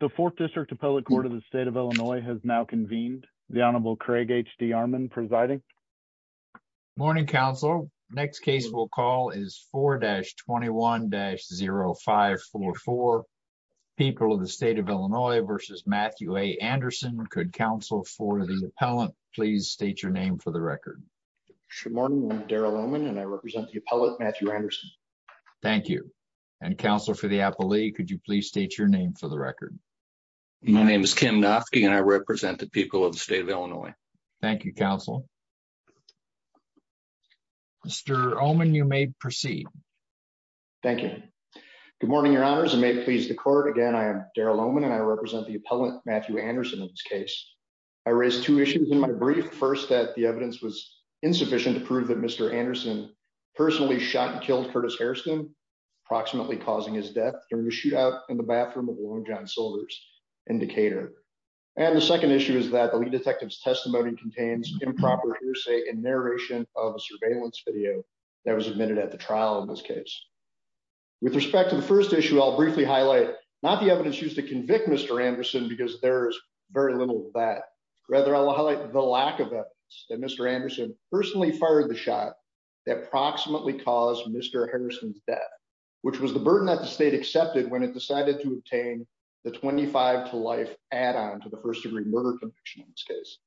the fourth district appellate court of the state of illinois has now convened the honorable craig hd armand presiding morning counsel next case we'll call is 4-21-0544 people of the state of illinois versus matthew a anderson could counsel for the appellant please state your name for the record good morning i'm daryl omen and i represent the appellate matthew anderson thank you and counsel for the appellee could you please state your name for the record my name is kim knopf and i represent the people of the state of illinois thank you counsel mr omen you may proceed thank you good morning your honors and may it please the court again i am daryl omen and i represent the appellant matthew anderson in this case i raised two issues in my brief first that the evidence was insufficient to prove that mr anderson personally shot and killed curtis hairston approximately causing his death during a soldiers indicator and the second issue is that the lead detective's testimony contains improper hearsay and narration of a surveillance video that was admitted at the trial in this case with respect to the first issue i'll briefly highlight not the evidence used to convict mr anderson because there is very little of that rather i'll highlight the lack of evidence that mr anderson personally fired the shot that approximately caused mr harrison's death which was the burden that the state accepted when it decided to obtain the 25 to life add-on to the first degree murder conviction in this case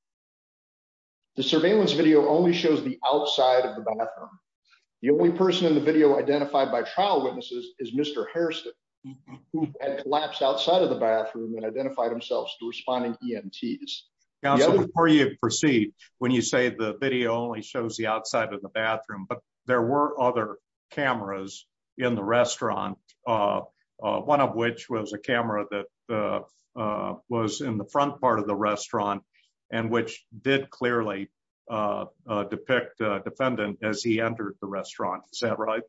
the surveillance video only shows the outside of the bathroom the only person in the video identified by trial witnesses is mr hairston who had collapsed outside of the bathroom and identified themselves to responding emts before you proceed when you say the video only shows outside of the bathroom but there were other cameras in the restaurant one of which was a camera that was in the front part of the restaurant and which did clearly depict defendant as he entered the restaurant is that right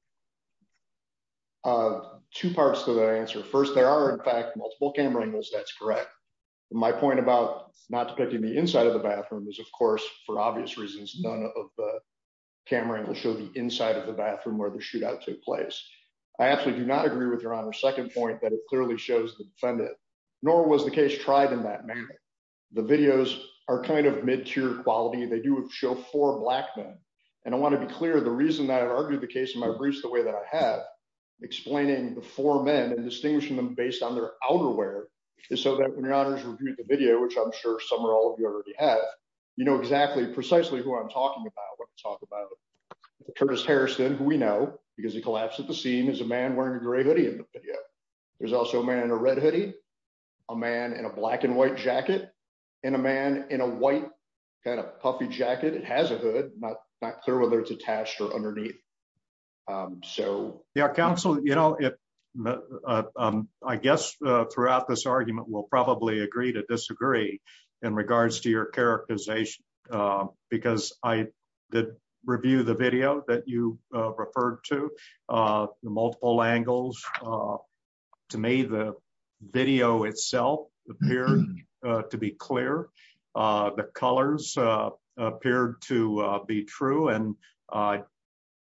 two parts to the answer first there are in fact multiple camera angles that's correct my point about not depicting the inside of the camera angle show the inside of the bathroom where the shootout took place i absolutely do not agree with your honor second point that it clearly shows the defendant nor was the case tried in that manner the videos are kind of mid-tier quality they do show four black men and i want to be clear the reason that i've argued the case in my briefs the way that i have explaining the four men and distinguishing them based on their outerwear is so that when your honors reviewed the video which i'm sure some or all of you already have you know exactly precisely who i'm talking about what to talk about curtis harrison who we know because he collapsed at the scene is a man wearing a gray hoodie in the video there's also a man in a red hoodie a man in a black and white jacket and a man in a white kind of puffy jacket it has a hood not not clear whether it's attached or underneath um so yeah counsel you know if i guess uh throughout this argument will probably agree to disagree in regards to your characterization uh because i did review the video that you uh referred to uh the multiple angles uh to me the video itself appeared to be clear uh the colors uh appeared to uh be true and uh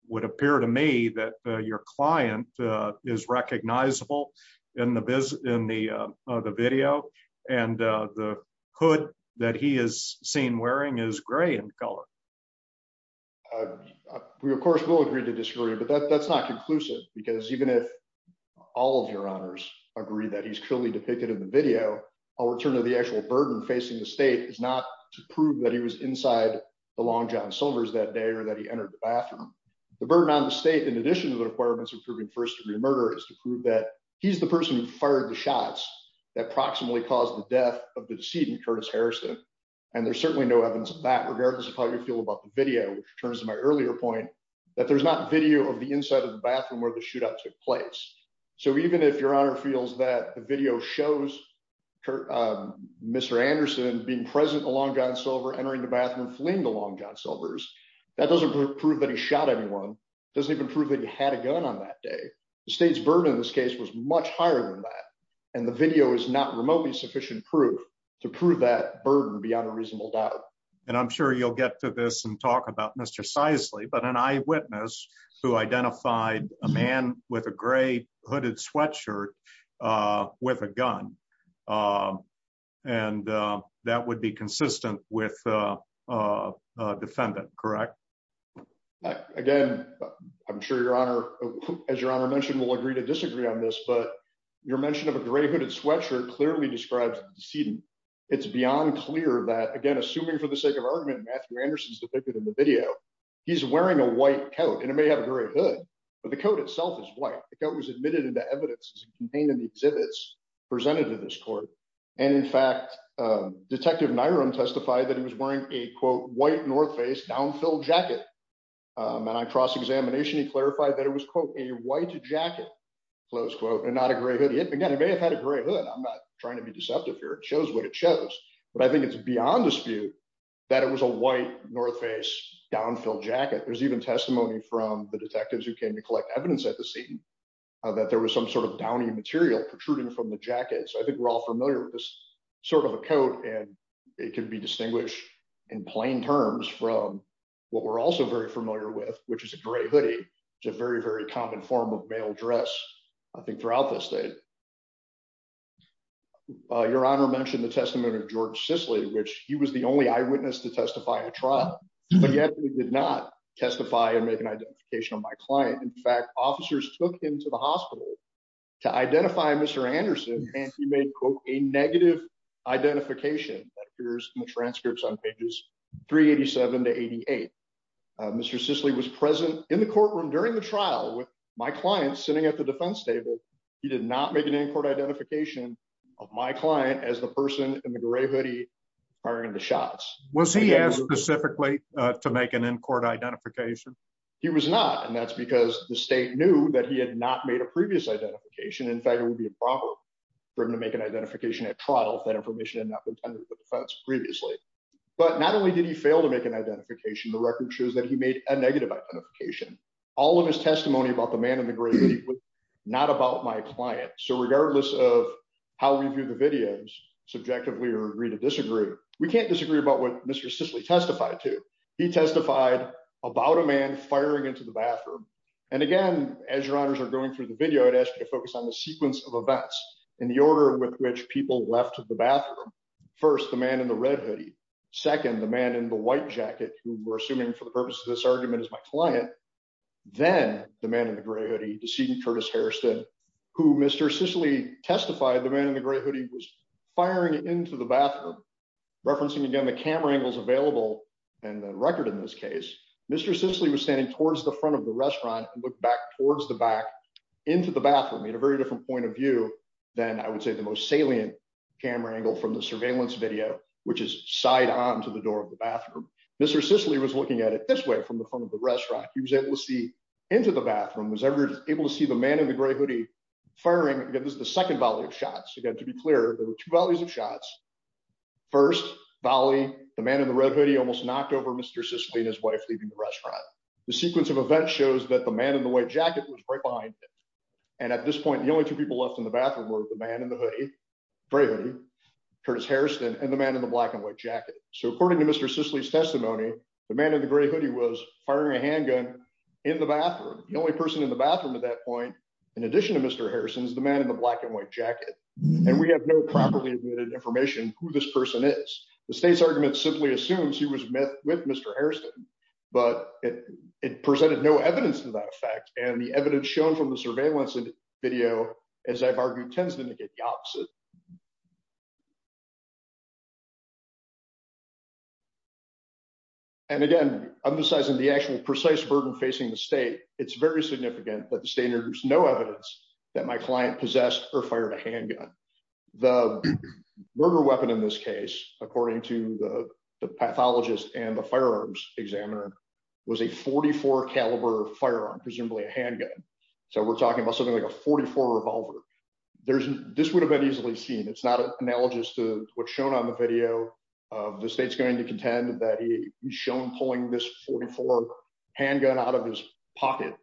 would appear to me that your client is recognizable in the business in the uh the video and uh the hood that he is seen wearing is gray in color uh we of course will agree to disagree but that that's not conclusive because even if all of your honors agree that he's clearly depicted in the video i'll return to the actual burden facing the state is not to prove that he was inside the long john silvers that day or that entered the bathroom the burden on the state in addition to the requirements of proving first degree murder is to prove that he's the person who fired the shots that approximately caused the death of the decedent curtis harrison and there's certainly no evidence of that regardless of how you feel about the video which returns to my earlier point that there's not video of the inside of the bathroom where the shootout took place so even if your honor feels that the video shows mr anderson being present along john silver entering the bathroom fleeing the long john silvers that doesn't prove that he shot anyone doesn't even prove that he had a gun on that day the state's burden in this case was much higher than that and the video is not remotely sufficient proof to prove that burden beyond a reasonable doubt and i'm sure you'll get to this and talk about mr sizely but an eyewitness who identified a man with a gray hooded sweatshirt uh with a gun um and uh that would be consistent with uh uh defendant correct again i'm sure your honor as your honor mentioned will agree to disagree on this but your mention of a gray hooded sweatshirt clearly describes the decedent it's beyond clear that again assuming for the sake of argument matthew anderson's depicted in the video he's wearing a white coat and it may have a gray hood but the coat itself is white the coat was admitted into evidence contained in the exhibits presented to this court and in fact detective niram testified that he was wearing a quote white north face downfill jacket and i cross examination he clarified that it was quote a white jacket close quote and not a gray hoodie again he may have had a gray hood i'm not trying to be deceptive here it shows what it shows but i think it's beyond dispute that it was a white north face downfill jacket there's even testimony from the detectives who came to collect evidence at the scene that there was some sort of downy material protruding from the jacket so i think we're all familiar with this sort of a coat and it can be distinguished in plain terms from what we're also very familiar with which is a gray hoodie it's a very very common form of male dress i think throughout the state uh your honor mentioned the testimony of george sisley which he was the only eyewitness to testify at trial but yet he did not testify and make an identification of my client in fact officers took him to the hospital to identify mr anderson and he made quote a negative identification that appears in the transcripts on pages 387 to 88 mr sisley was present in the courtroom during the trial with my client sitting at the defense table he did not make an in-court identification of my client as the person in the gray hoodie firing the shots was he specifically to make an in-court identification he was not and that's because the state knew that he had not made a previous identification in fact it would be improper for him to make an identification at trial if that information had not been under the defense previously but not only did he fail to make an identification the record shows that he made a negative identification all of his testimony about the man in the great league was not about my client so regardless of how we view the videos subjectively or agree to disagree we can't disagree about what mr sisley testified to he testified about a man firing into the bathroom and again as your honors are going through the video i'd ask you to focus on the sequence of events in the order with which people left the bathroom first the man in the red hoodie second the man in the white jacket who were assuming for the purpose of this argument is my client then the man in the gray hoodie decedent curtis harrison who mr sisley testified the man in the gray hoodie was firing into the bathroom referencing again the camera angles available and the record in this case mr sisley was standing towards the front of the restaurant and looked back towards the back into the bathroom made a very different point of view than i would say the most salient camera angle from the surveillance video which is side on to the door of the bathroom mr sisley was looking at it this way from the front of the restaurant he was able to see into the bathroom was ever able to see the man in the gray hoodie firing again this is the second value of shots again to be clear there were two values of shots first volley the man in the red hoodie almost knocked over mr sisley and his wife leaving the restaurant the sequence of events shows that the man in the white jacket was right behind and at this point the only two people left in the bathroom were the man in the hoodie gray hoodie curtis harrison and the man in the black and white jacket so according to mr sisley's testimony the man in the gray hoodie was firing a handgun in the bathroom the only person in the bathroom at that point in addition to mr harrison's the man in the black and white jacket and we have no properly admitted information who this person is the state's argument simply assumes he was met with mr harrison but it presented no evidence to that effect and the evidence shown from the surveillance video as i've argued tends to indicate the opposite and again emphasizing the actual precise burden facing the state it's very significant that the fired a handgun the murder weapon in this case according to the pathologist and the firearms examiner was a 44 caliber firearm presumably a handgun so we're talking about something like a 44 revolver there's this would have been easily seen it's not analogous to what's shown on the video of the state's going to contend that he was shown pulling this 44 handgun out of his pocket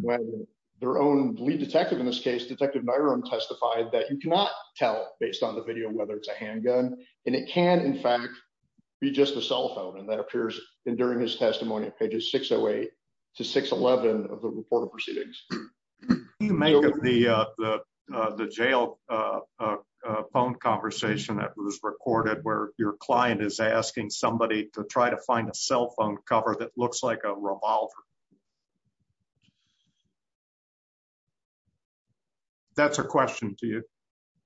when their own lead detective in this case detective my room testified that you cannot tell based on the video whether it's a handgun and it can in fact be just a cell phone and that appears in during his testimony at pages 608 to 611 of the report of proceedings can you make of the uh the uh the jail uh uh phone conversation that was recorded where your client is asking somebody to try to find a cell phone cover that looks like a revolver that's a question to you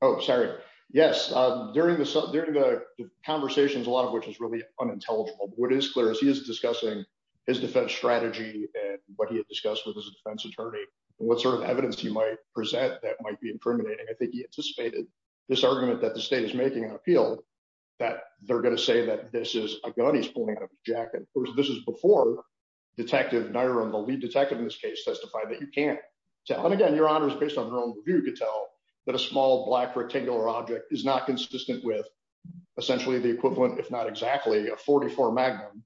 oh sorry yes um during the during the conversations a lot of which is really unintelligible what is clear is he is discussing his defense strategy and what he had discussed with his defense attorney and what sort of evidence he might present that might be incriminating i think he anticipated this argument that the state is making an appeal that they're going to say that this is a gun he's pulling out of his jacket this is before detective naira and the lead detective in this case testified that you can't tell and again your honor is based on her own view to tell that a small black rectangular object is not consistent with essentially the equivalent if not exactly a 44 magnum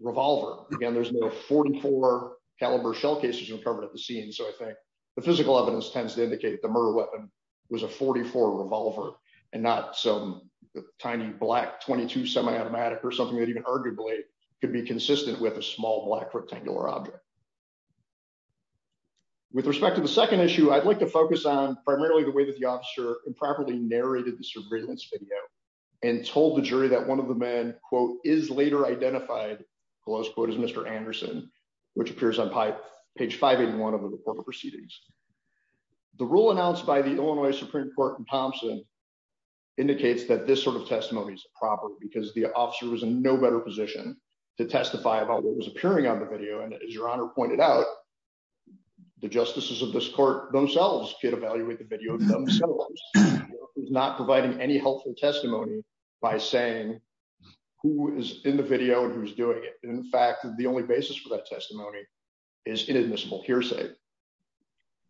revolver again there's no 44 caliber shell cases uncovered at the scene so i think the physical evidence tends to indicate the murder weapon was a 44 revolver and not some tiny black 22 semi-automatic or something that even arguably could be consistent with a small black rectangular object with respect to the second issue i'd like to focus on primarily the way that the officer improperly narrated this surveillance video and told the jury that one of the men quote is later identified close quote is mr anderson which appears on pipe page 581 of the report of proceedings the rule announced by the illinois supreme court in thompson indicates that this sort of testimony is improper because the officer was in no better position to testify about what was appearing on the video and as your honor pointed out the justices of this court themselves could evaluate the video themselves not providing any helpful testimony by saying who is in the video and who's doing it in fact the only basis for that testimony is inadmissible hearsay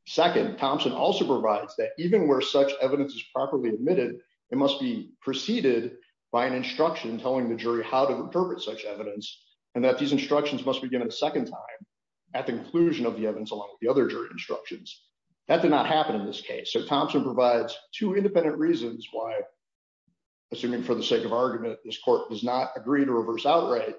second thompson also provides that even where such evidence is properly admitted it must be preceded by an instruction telling the jury how to interpret such evidence and that these instructions must begin a second time at the inclusion of the evidence along with the other jury instructions that did not happen in this case so thompson provides two independent reasons why assuming for the sake of argument this court does not agree to reverse outright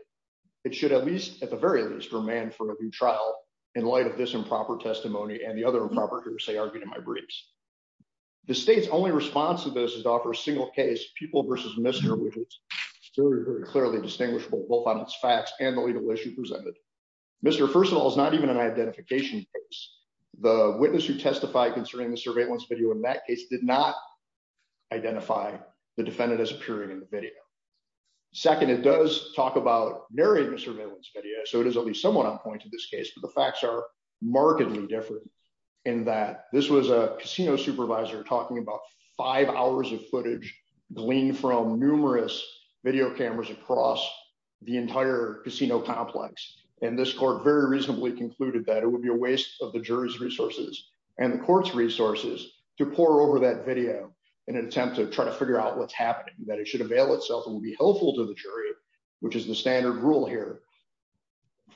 it should at least at the very least remain for a new trial in light of this improper testimony and the other improper argument in my briefs the state's only response to this is to offer a single case people versus mister which is very very clearly distinguishable both on its facts and the legal issue presented mister first of all is not even an identification case the witness who testified concerning the surveillance video in that case did not identify the defendant as appearing in the video second it does talk about narrating the surveillance video so it is at least somewhat on point in this case the facts are markedly different in that this was a casino supervisor talking about five hours of footage gleaned from numerous video cameras across the entire casino complex and this court very reasonably concluded that it would be a waste of the jury's resources and the court's resources to pour over that video in an attempt to try to figure out what's happening that it should avail itself and be helpful to the jury which is the standard rule here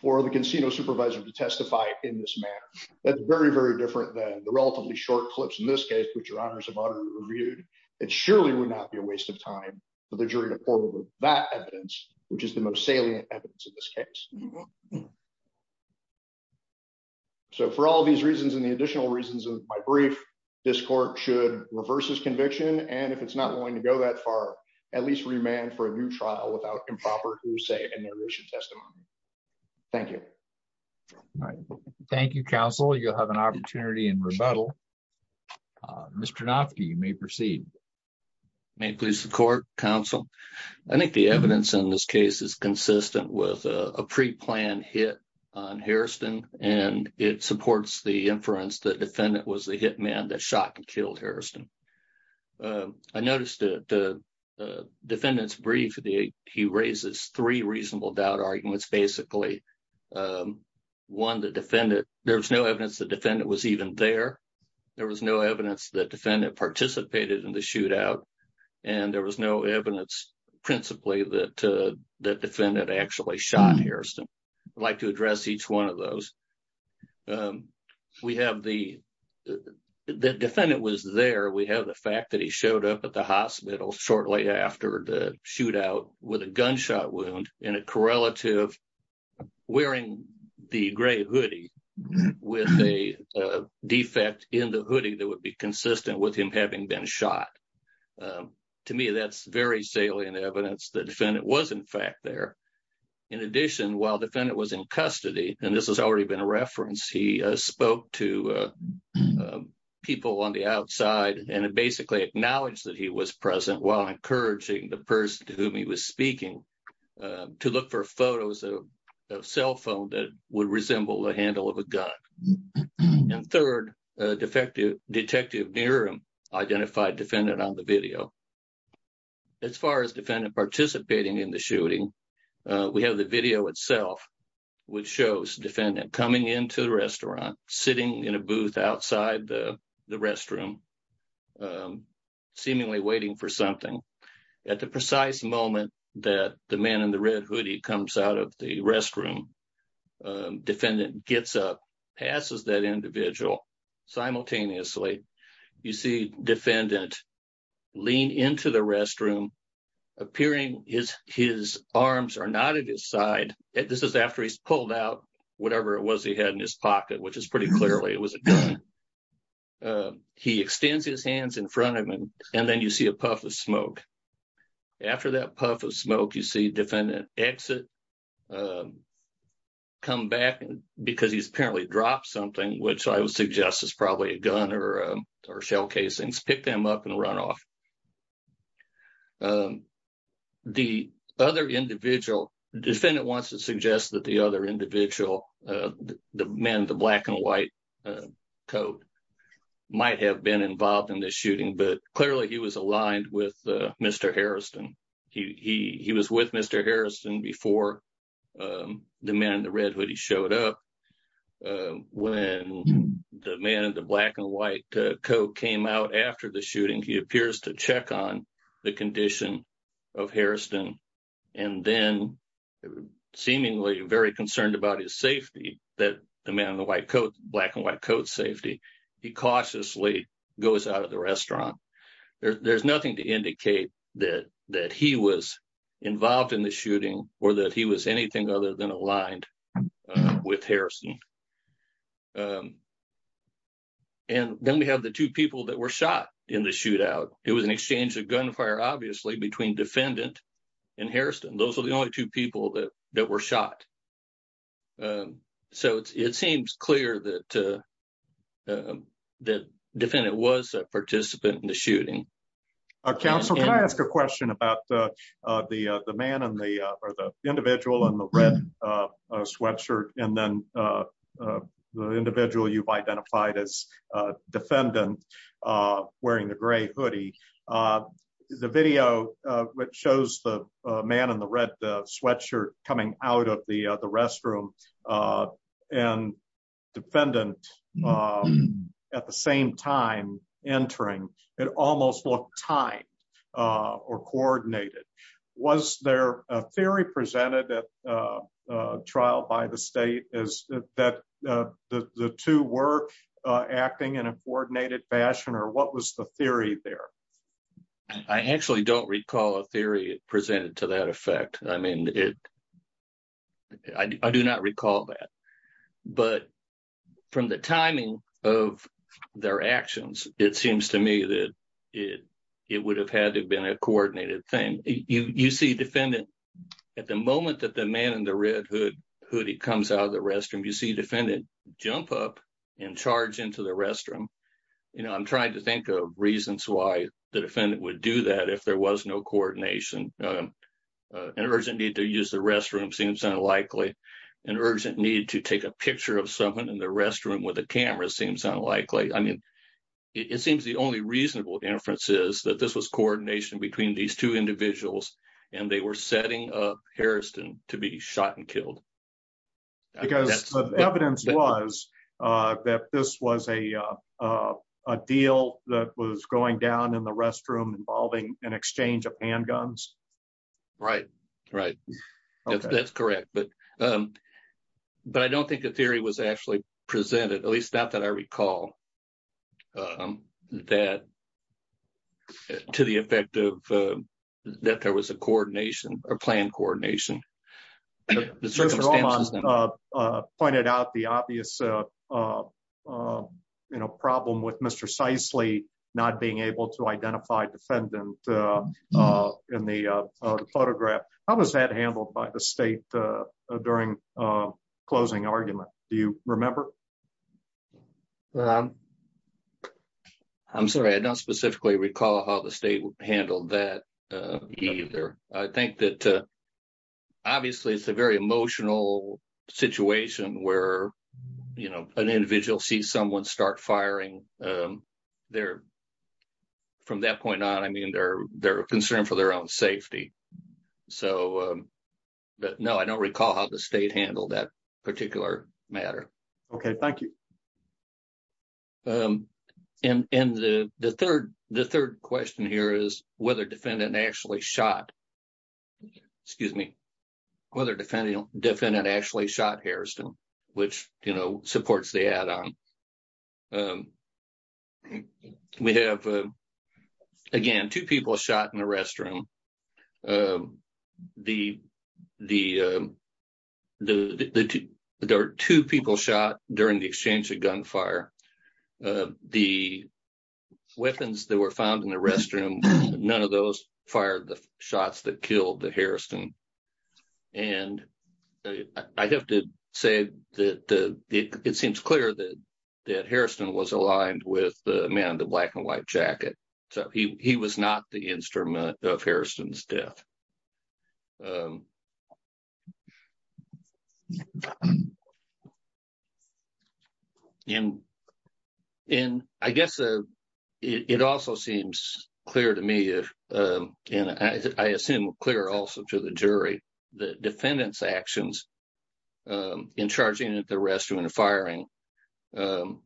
for the casino supervisor to testify in this manner that's very very different than the relatively short clips in this case which your honors have already reviewed it surely would not be a waste of time for the jury to pour over that evidence which is the most salient evidence in this case so for all these reasons and the additional reasons of my brief this court should reverse this conviction and if it's not willing to go that far at least remand for a new trial without improper who say a narration testimony thank you all right thank you counsel you'll have an opportunity in rebuttal uh mr knopfke you may proceed may please the court counsel i think the evidence in this case is consistent with a pre-planned hit on harriston and it supports the inference that defendant was the hitman that shot and killed harriston i noticed the defendant's brief the he raises three reasonable doubt arguments basically one the defendant there was no evidence the defendant was even there there was no evidence that defendant participated in the shootout and there was no evidence principally that that defendant actually shot harriston i'd like to address each one of those um we have the the defendant was there we have the fact that he showed up at the hospital shortly after the shootout with a gunshot wound in a correlative wearing the gray hoodie with a defect in the hoodie that would be consistent with him having been shot to me that's very salient evidence the defendant was in fact there in addition while the defendant was in custody and this has already been a reference he spoke to people on the outside and basically acknowledged that he was present while encouraging the person to whom he was speaking to look for photos of cell phone that would resemble the handle of a gun and third defective detective near him identified defendant on the video as far as defendant participating in the shooting we have the video itself which shows defendant coming into the restaurant sitting in a booth outside the the restroom seemingly waiting for something at the precise moment that the man in the red hoodie comes out of the restroom defendant gets up passes that individual simultaneously you see defendant lean into the restroom appearing his his arms are not at his side this is after he's pulled out whatever it was he had in his pocket which is pretty clearly it was a gun he extends his hands in front of him and then you see a puff of smoke after that puff of smoke you see defendant exit come back because he's apparently dropped something which I would suggest is probably a gun or shell casings pick them up and run off the other individual defendant wants to suggest that the other individual the men the black and white coat might have been involved in this shooting but clearly he was aligned with Mr. the man in the black and white coat came out after the shooting he appears to check on the condition of Harrison and then seemingly very concerned about his safety that the man in the white coat black and white coat safety he cautiously goes out of the restaurant there's nothing to indicate that that he was involved in the shooting or that he was anything other than aligned with Harrison and then we have the two people that were shot in the shootout it was an exchange of gunfire obviously between defendant and Harrison those are the only two people that that were shot so it seems clear that the defendant was a participant in the shooting counsel can I ask a question about the the man and the or the individual and the red sweatshirt and then the individual you've identified as defendant wearing the gray hoodie the video which shows the man in the red sweatshirt coming out of the the restroom and defendant at the same time entering it almost looked timed or coordinated was there a theory presented at a trial by the state is that the the two were acting in a coordinated fashion or what was the theory there I actually don't recall a theory presented to that effect I mean it I do not recall that but from the timing of their actions it seems to me that it it would have had to have been a coordinated thing you you see defendant at the moment that the man in the red hood hoodie comes out of the restroom you see defendant jump up and charge into the restroom you know I'm trying to think of reasons why the defendant would do that if there was no coordination uh an urgent need to use the restroom seems unlikely an urgent need to take a picture of someone in the restroom with a camera seems unlikely I mean it seems the only reasonable inference is that this was coordination between these two individuals and they were setting up Harrison to be shot and killed because the evidence was uh that this was a uh a deal that was going down in the restroom involving an exchange of handguns right right that's correct but um but I don't think the theory was actually presented at least not that I recall um that to the effect of uh that there was a coordination or planned coordination the circumstances uh uh pointed out the obvious uh uh you know problem with Mr. Cicely not being able to identify defendant uh in the uh photograph how was that handled by the state uh during uh closing argument do you remember um I'm sorry I don't specifically recall how the state handled that uh either I think that uh obviously it's a very emotional situation where you know an individual sees someone start firing um they're from that point on I mean they're they're concerned for their own safety so um but no I don't recall how the state handled that particular matter okay thank you um and and the the third the third question here is whether defendant actually shot excuse me whether defending defendant actually shot Harrison which you know supports the add-on um we have uh again two people shot in the restroom um the the uh the the two there are the exchange of gunfire uh the weapons that were found in the restroom none of those fired the shots that killed the Harrison and I have to say that the it seems clear that that Harrison was aligned with the man in the black and white jacket so he he was not the instrument of Harrison's um and and I guess uh it also seems clear to me if um and I assume clear also to the jury the defendant's actions um in charging at the restroom and firing um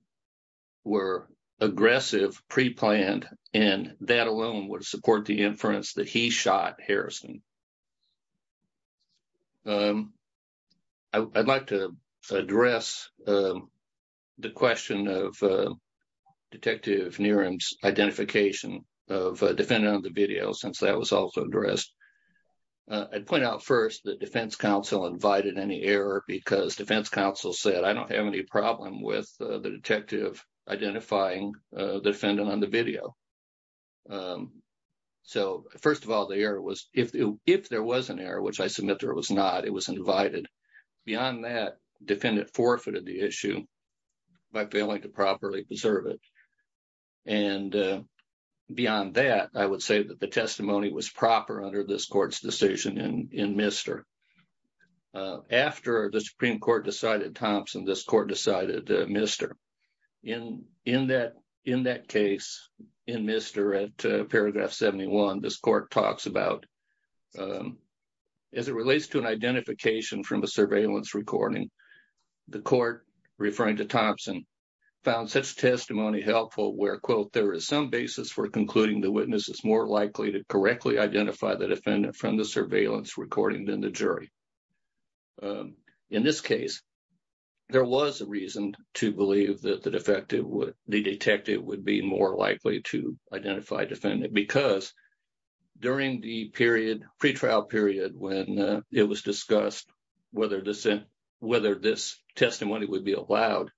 were aggressive pre-planned and that alone would support the inference that he shot Harrison um I'd like to address um the question of Detective Niren's identification of defendant on the video since that was also addressed I'd point out first that defense counsel invited any error because defense counsel said I don't have any problem with the detective identifying uh the defendant on the video um so first of all the error was if if there was an error which I submit there was not it was invited beyond that defendant forfeited the issue by failing to properly preserve it and beyond that I would say that the testimony was proper under this court's decision in in mister uh after the supreme court decided Thompson this court decided uh mister in in that in that case in mister at paragraph 71 this court talks about um as it relates to an identification from a surveillance recording the court referring to Thompson found such testimony helpful where quote there is some basis for concluding the witness is more likely to correctly identify the defendant from the surveillance recording than the jury um in this case there was a reason to believe that the defective would the detective would be more likely to identify defendant because during the period pre-trial period when it was discussed whether this whether this testimony would be allowed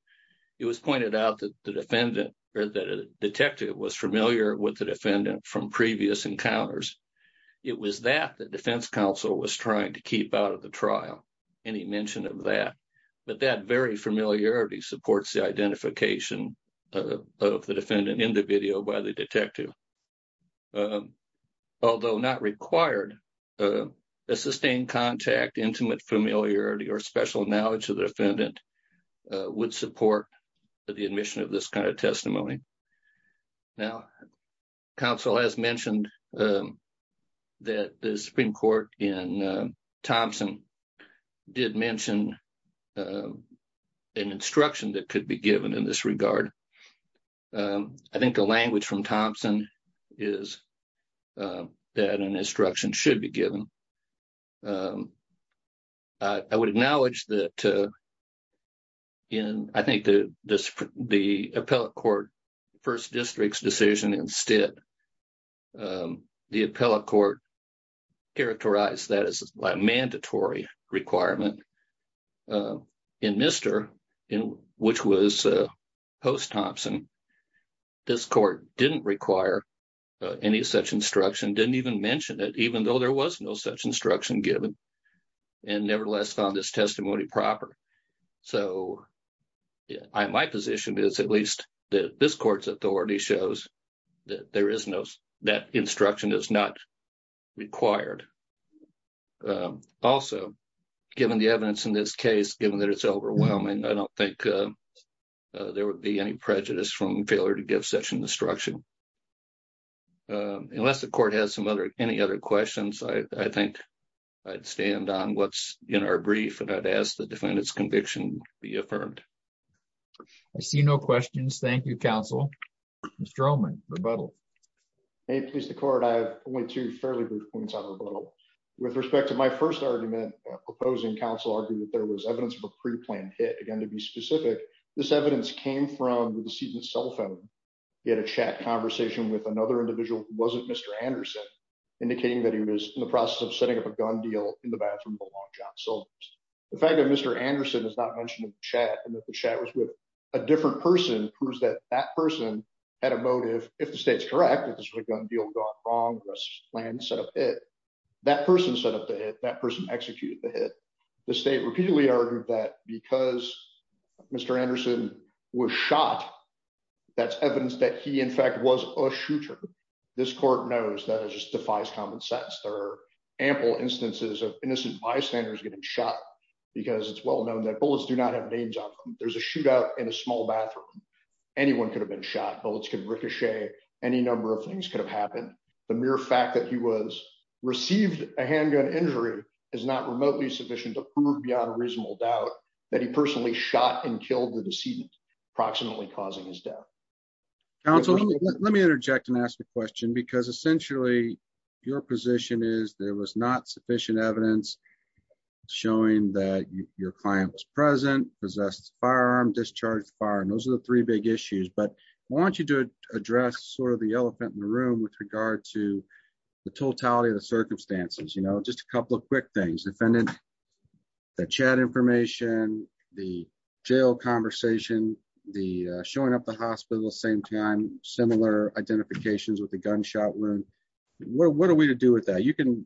it was pointed out that the defendant or that a detective was familiar with the defendant from previous encounters it was that the defense counsel was trying to keep out of the trial any mention of that but that very familiarity supports the identification of the defendant in the video by the detective although not required a sustained contact intimate familiarity or special knowledge of the defendant would support the admission of this kind of testimony now council has mentioned that the supreme court in Thompson did mention an instruction that could be given in this regard I think the language from Thompson is that an instruction should be given I would acknowledge that in I think the the appellate court first district's decision instead um the appellate court characterized that as a mandatory requirement in Mr. in which was post Thompson this court didn't require any such instruction didn't even mention it even though there was no such instruction given and nevertheless found this that instruction is not required also given the evidence in this case given that it's overwhelming I don't think there would be any prejudice from failure to give such an instruction unless the court has some other any other questions I I think I'd stand on what's in our brief and I'd ask the defendant's conviction be affirmed I see no questions thank you counsel Mr. Ullman rebuttal hey please the court I have only two fairly brief points on rebuttal with respect to my first argument proposing council argued that there was evidence of a pre-planned hit again to be specific this evidence came from the decedent's cell phone he had a chat conversation with another individual who wasn't Mr. Anderson indicating that he was in the process of setting up a gun deal in the bathroom of a long john silver's the fact that is not mentioned in the chat and that the chat was with a different person proves that that person had a motive if the state's correct if this was a gun deal gone wrong this plan set up it that person set up the hit that person executed the hit the state repeatedly argued that because Mr. Anderson was shot that's evidence that he in fact was a shooter this court knows that it just well known that bullets do not have names on them there's a shootout in a small bathroom anyone could have been shot bullets could ricochet any number of things could have happened the mere fact that he was received a handgun injury is not remotely sufficient to prove beyond a reasonable doubt that he personally shot and killed the decedent approximately causing his death counsel let me interject and ask a question because essentially your position is there was not sufficient evidence showing that your client was present possessed firearm discharged fire and those are the three big issues but I want you to address sort of the elephant in the room with regard to the totality of the circumstances you know just a couple of quick things defendant the chat information the jail conversation the showing up the hospital same time similar identifications with the gunshot wound what are we to do with that you can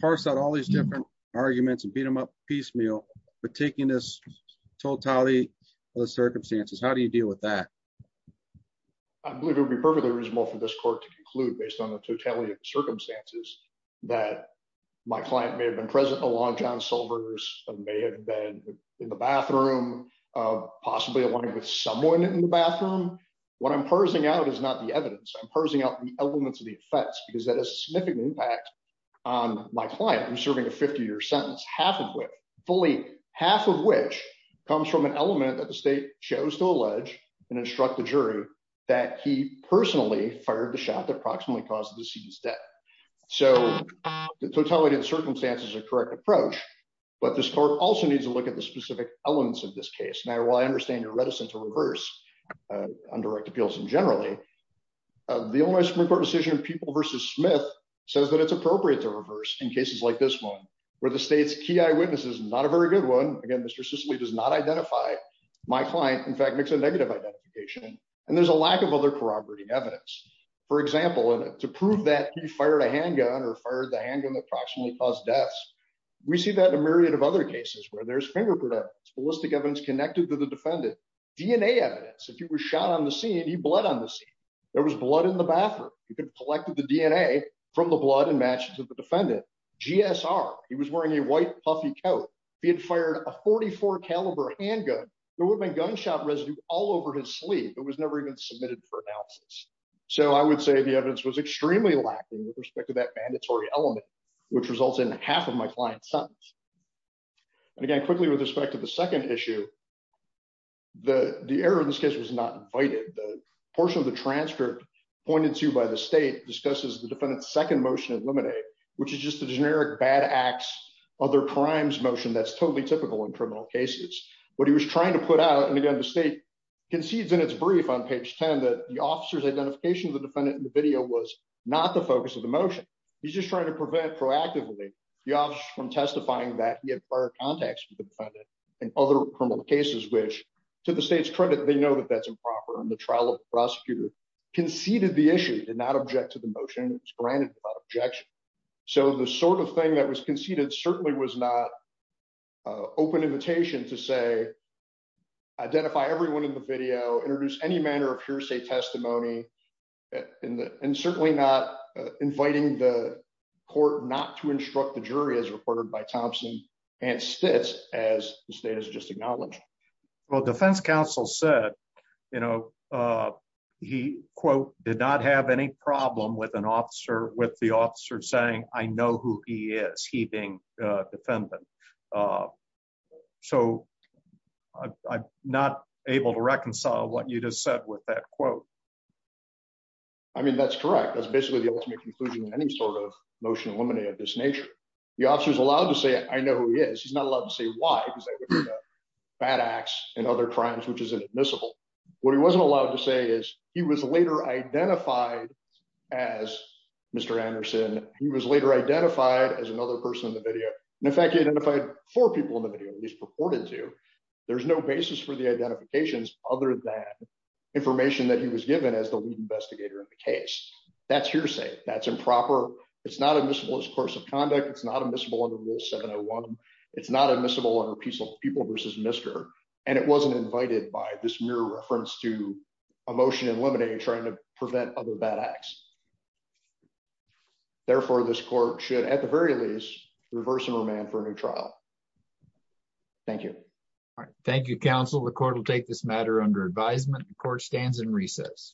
parse out all these different arguments and beat them up piecemeal but taking this totality of the circumstances how do you deal with that I believe it would be perfectly reasonable for this court to conclude based on the totality of circumstances that my client may have been present along John Silver's may have been in the bathroom possibly aligning with someone in the bathroom what I'm parsing out is not the evidence I'm parsing out the elements of the effects because that has significant impact on my client who's serving a 50-year sentence half and with fully half of which comes from an element that the state chose to allege and instruct the jury that he personally fired the shot that approximately caused the deceased death so the totality of the circumstances is a correct approach but this court also needs to look at the specific elements of this case now while I understand your generally the Illinois Supreme Court decision people versus Smith says that it's appropriate to reverse in cases like this one where the state's key eyewitness is not a very good one again Mr. Sicily does not identify my client in fact makes a negative identification and there's a lack of other corroborating evidence for example and to prove that he fired a handgun or fired the handgun approximately caused deaths we see that in a myriad of other cases where there's finger ballistic evidence connected to the defendant DNA evidence if he was shot on the scene he bled on the scene there was blood in the bathroom he collected the DNA from the blood and matches of the defendant GSR he was wearing a white puffy coat he had fired a 44 caliber handgun there would have been gunshot residue all over his sleeve it was never even submitted for analysis so I would say the evidence was extremely lacking with respect to that mandatory element which results in half of my client sentence and again quickly with respect to the second issue the the error in this case was not invited the portion of the transcript pointed to by the state discusses the defendant's second motion eliminate which is just a generic bad acts other crimes motion that's totally typical in criminal cases what he was trying to put out and again the state concedes in its brief on page 10 that the officer's identification of the defendant in the he's just trying to prevent proactively the officer from testifying that he had prior contacts with the defendant and other criminal cases which to the state's credit they know that that's improper and the trial prosecutor conceded the issue did not object to the motion it was granted without objection so the sort of thing that was conceded certainly was not open invitation to say identify everyone in the video introduce any manner of hearsay testimony in the and certainly not inviting the court not to instruct the jury as reported by Thompson and Stitz as the state has just acknowledged well defense counsel said you know he quote did not have any problem with an officer with the officer saying I know who he is he being defendant so I'm not able to reconcile what you just said with that quote I mean that's correct that's basically the ultimate conclusion any sort of motion eliminate of this nature the officer is allowed to say I know who he is he's not allowed to say why because bad acts and other crimes which is admissible what he wasn't allowed to say is he was later identified as Mr. Anderson he was later identified as another person in the video and in fact he for people in the video at least purported to there's no basis for the identifications other than information that he was given as the lead investigator in the case that's hearsay that's improper it's not admissible as course of conduct it's not admissible under rule 701 it's not admissible under peaceful people versus Mr. and it wasn't invited by this mere reference to emotion and lemonade trying to prevent other bad acts therefore this court should at the very least reverse and remand for a new trial thank you all right thank you counsel the court will take this matter under advisement the court stands in recess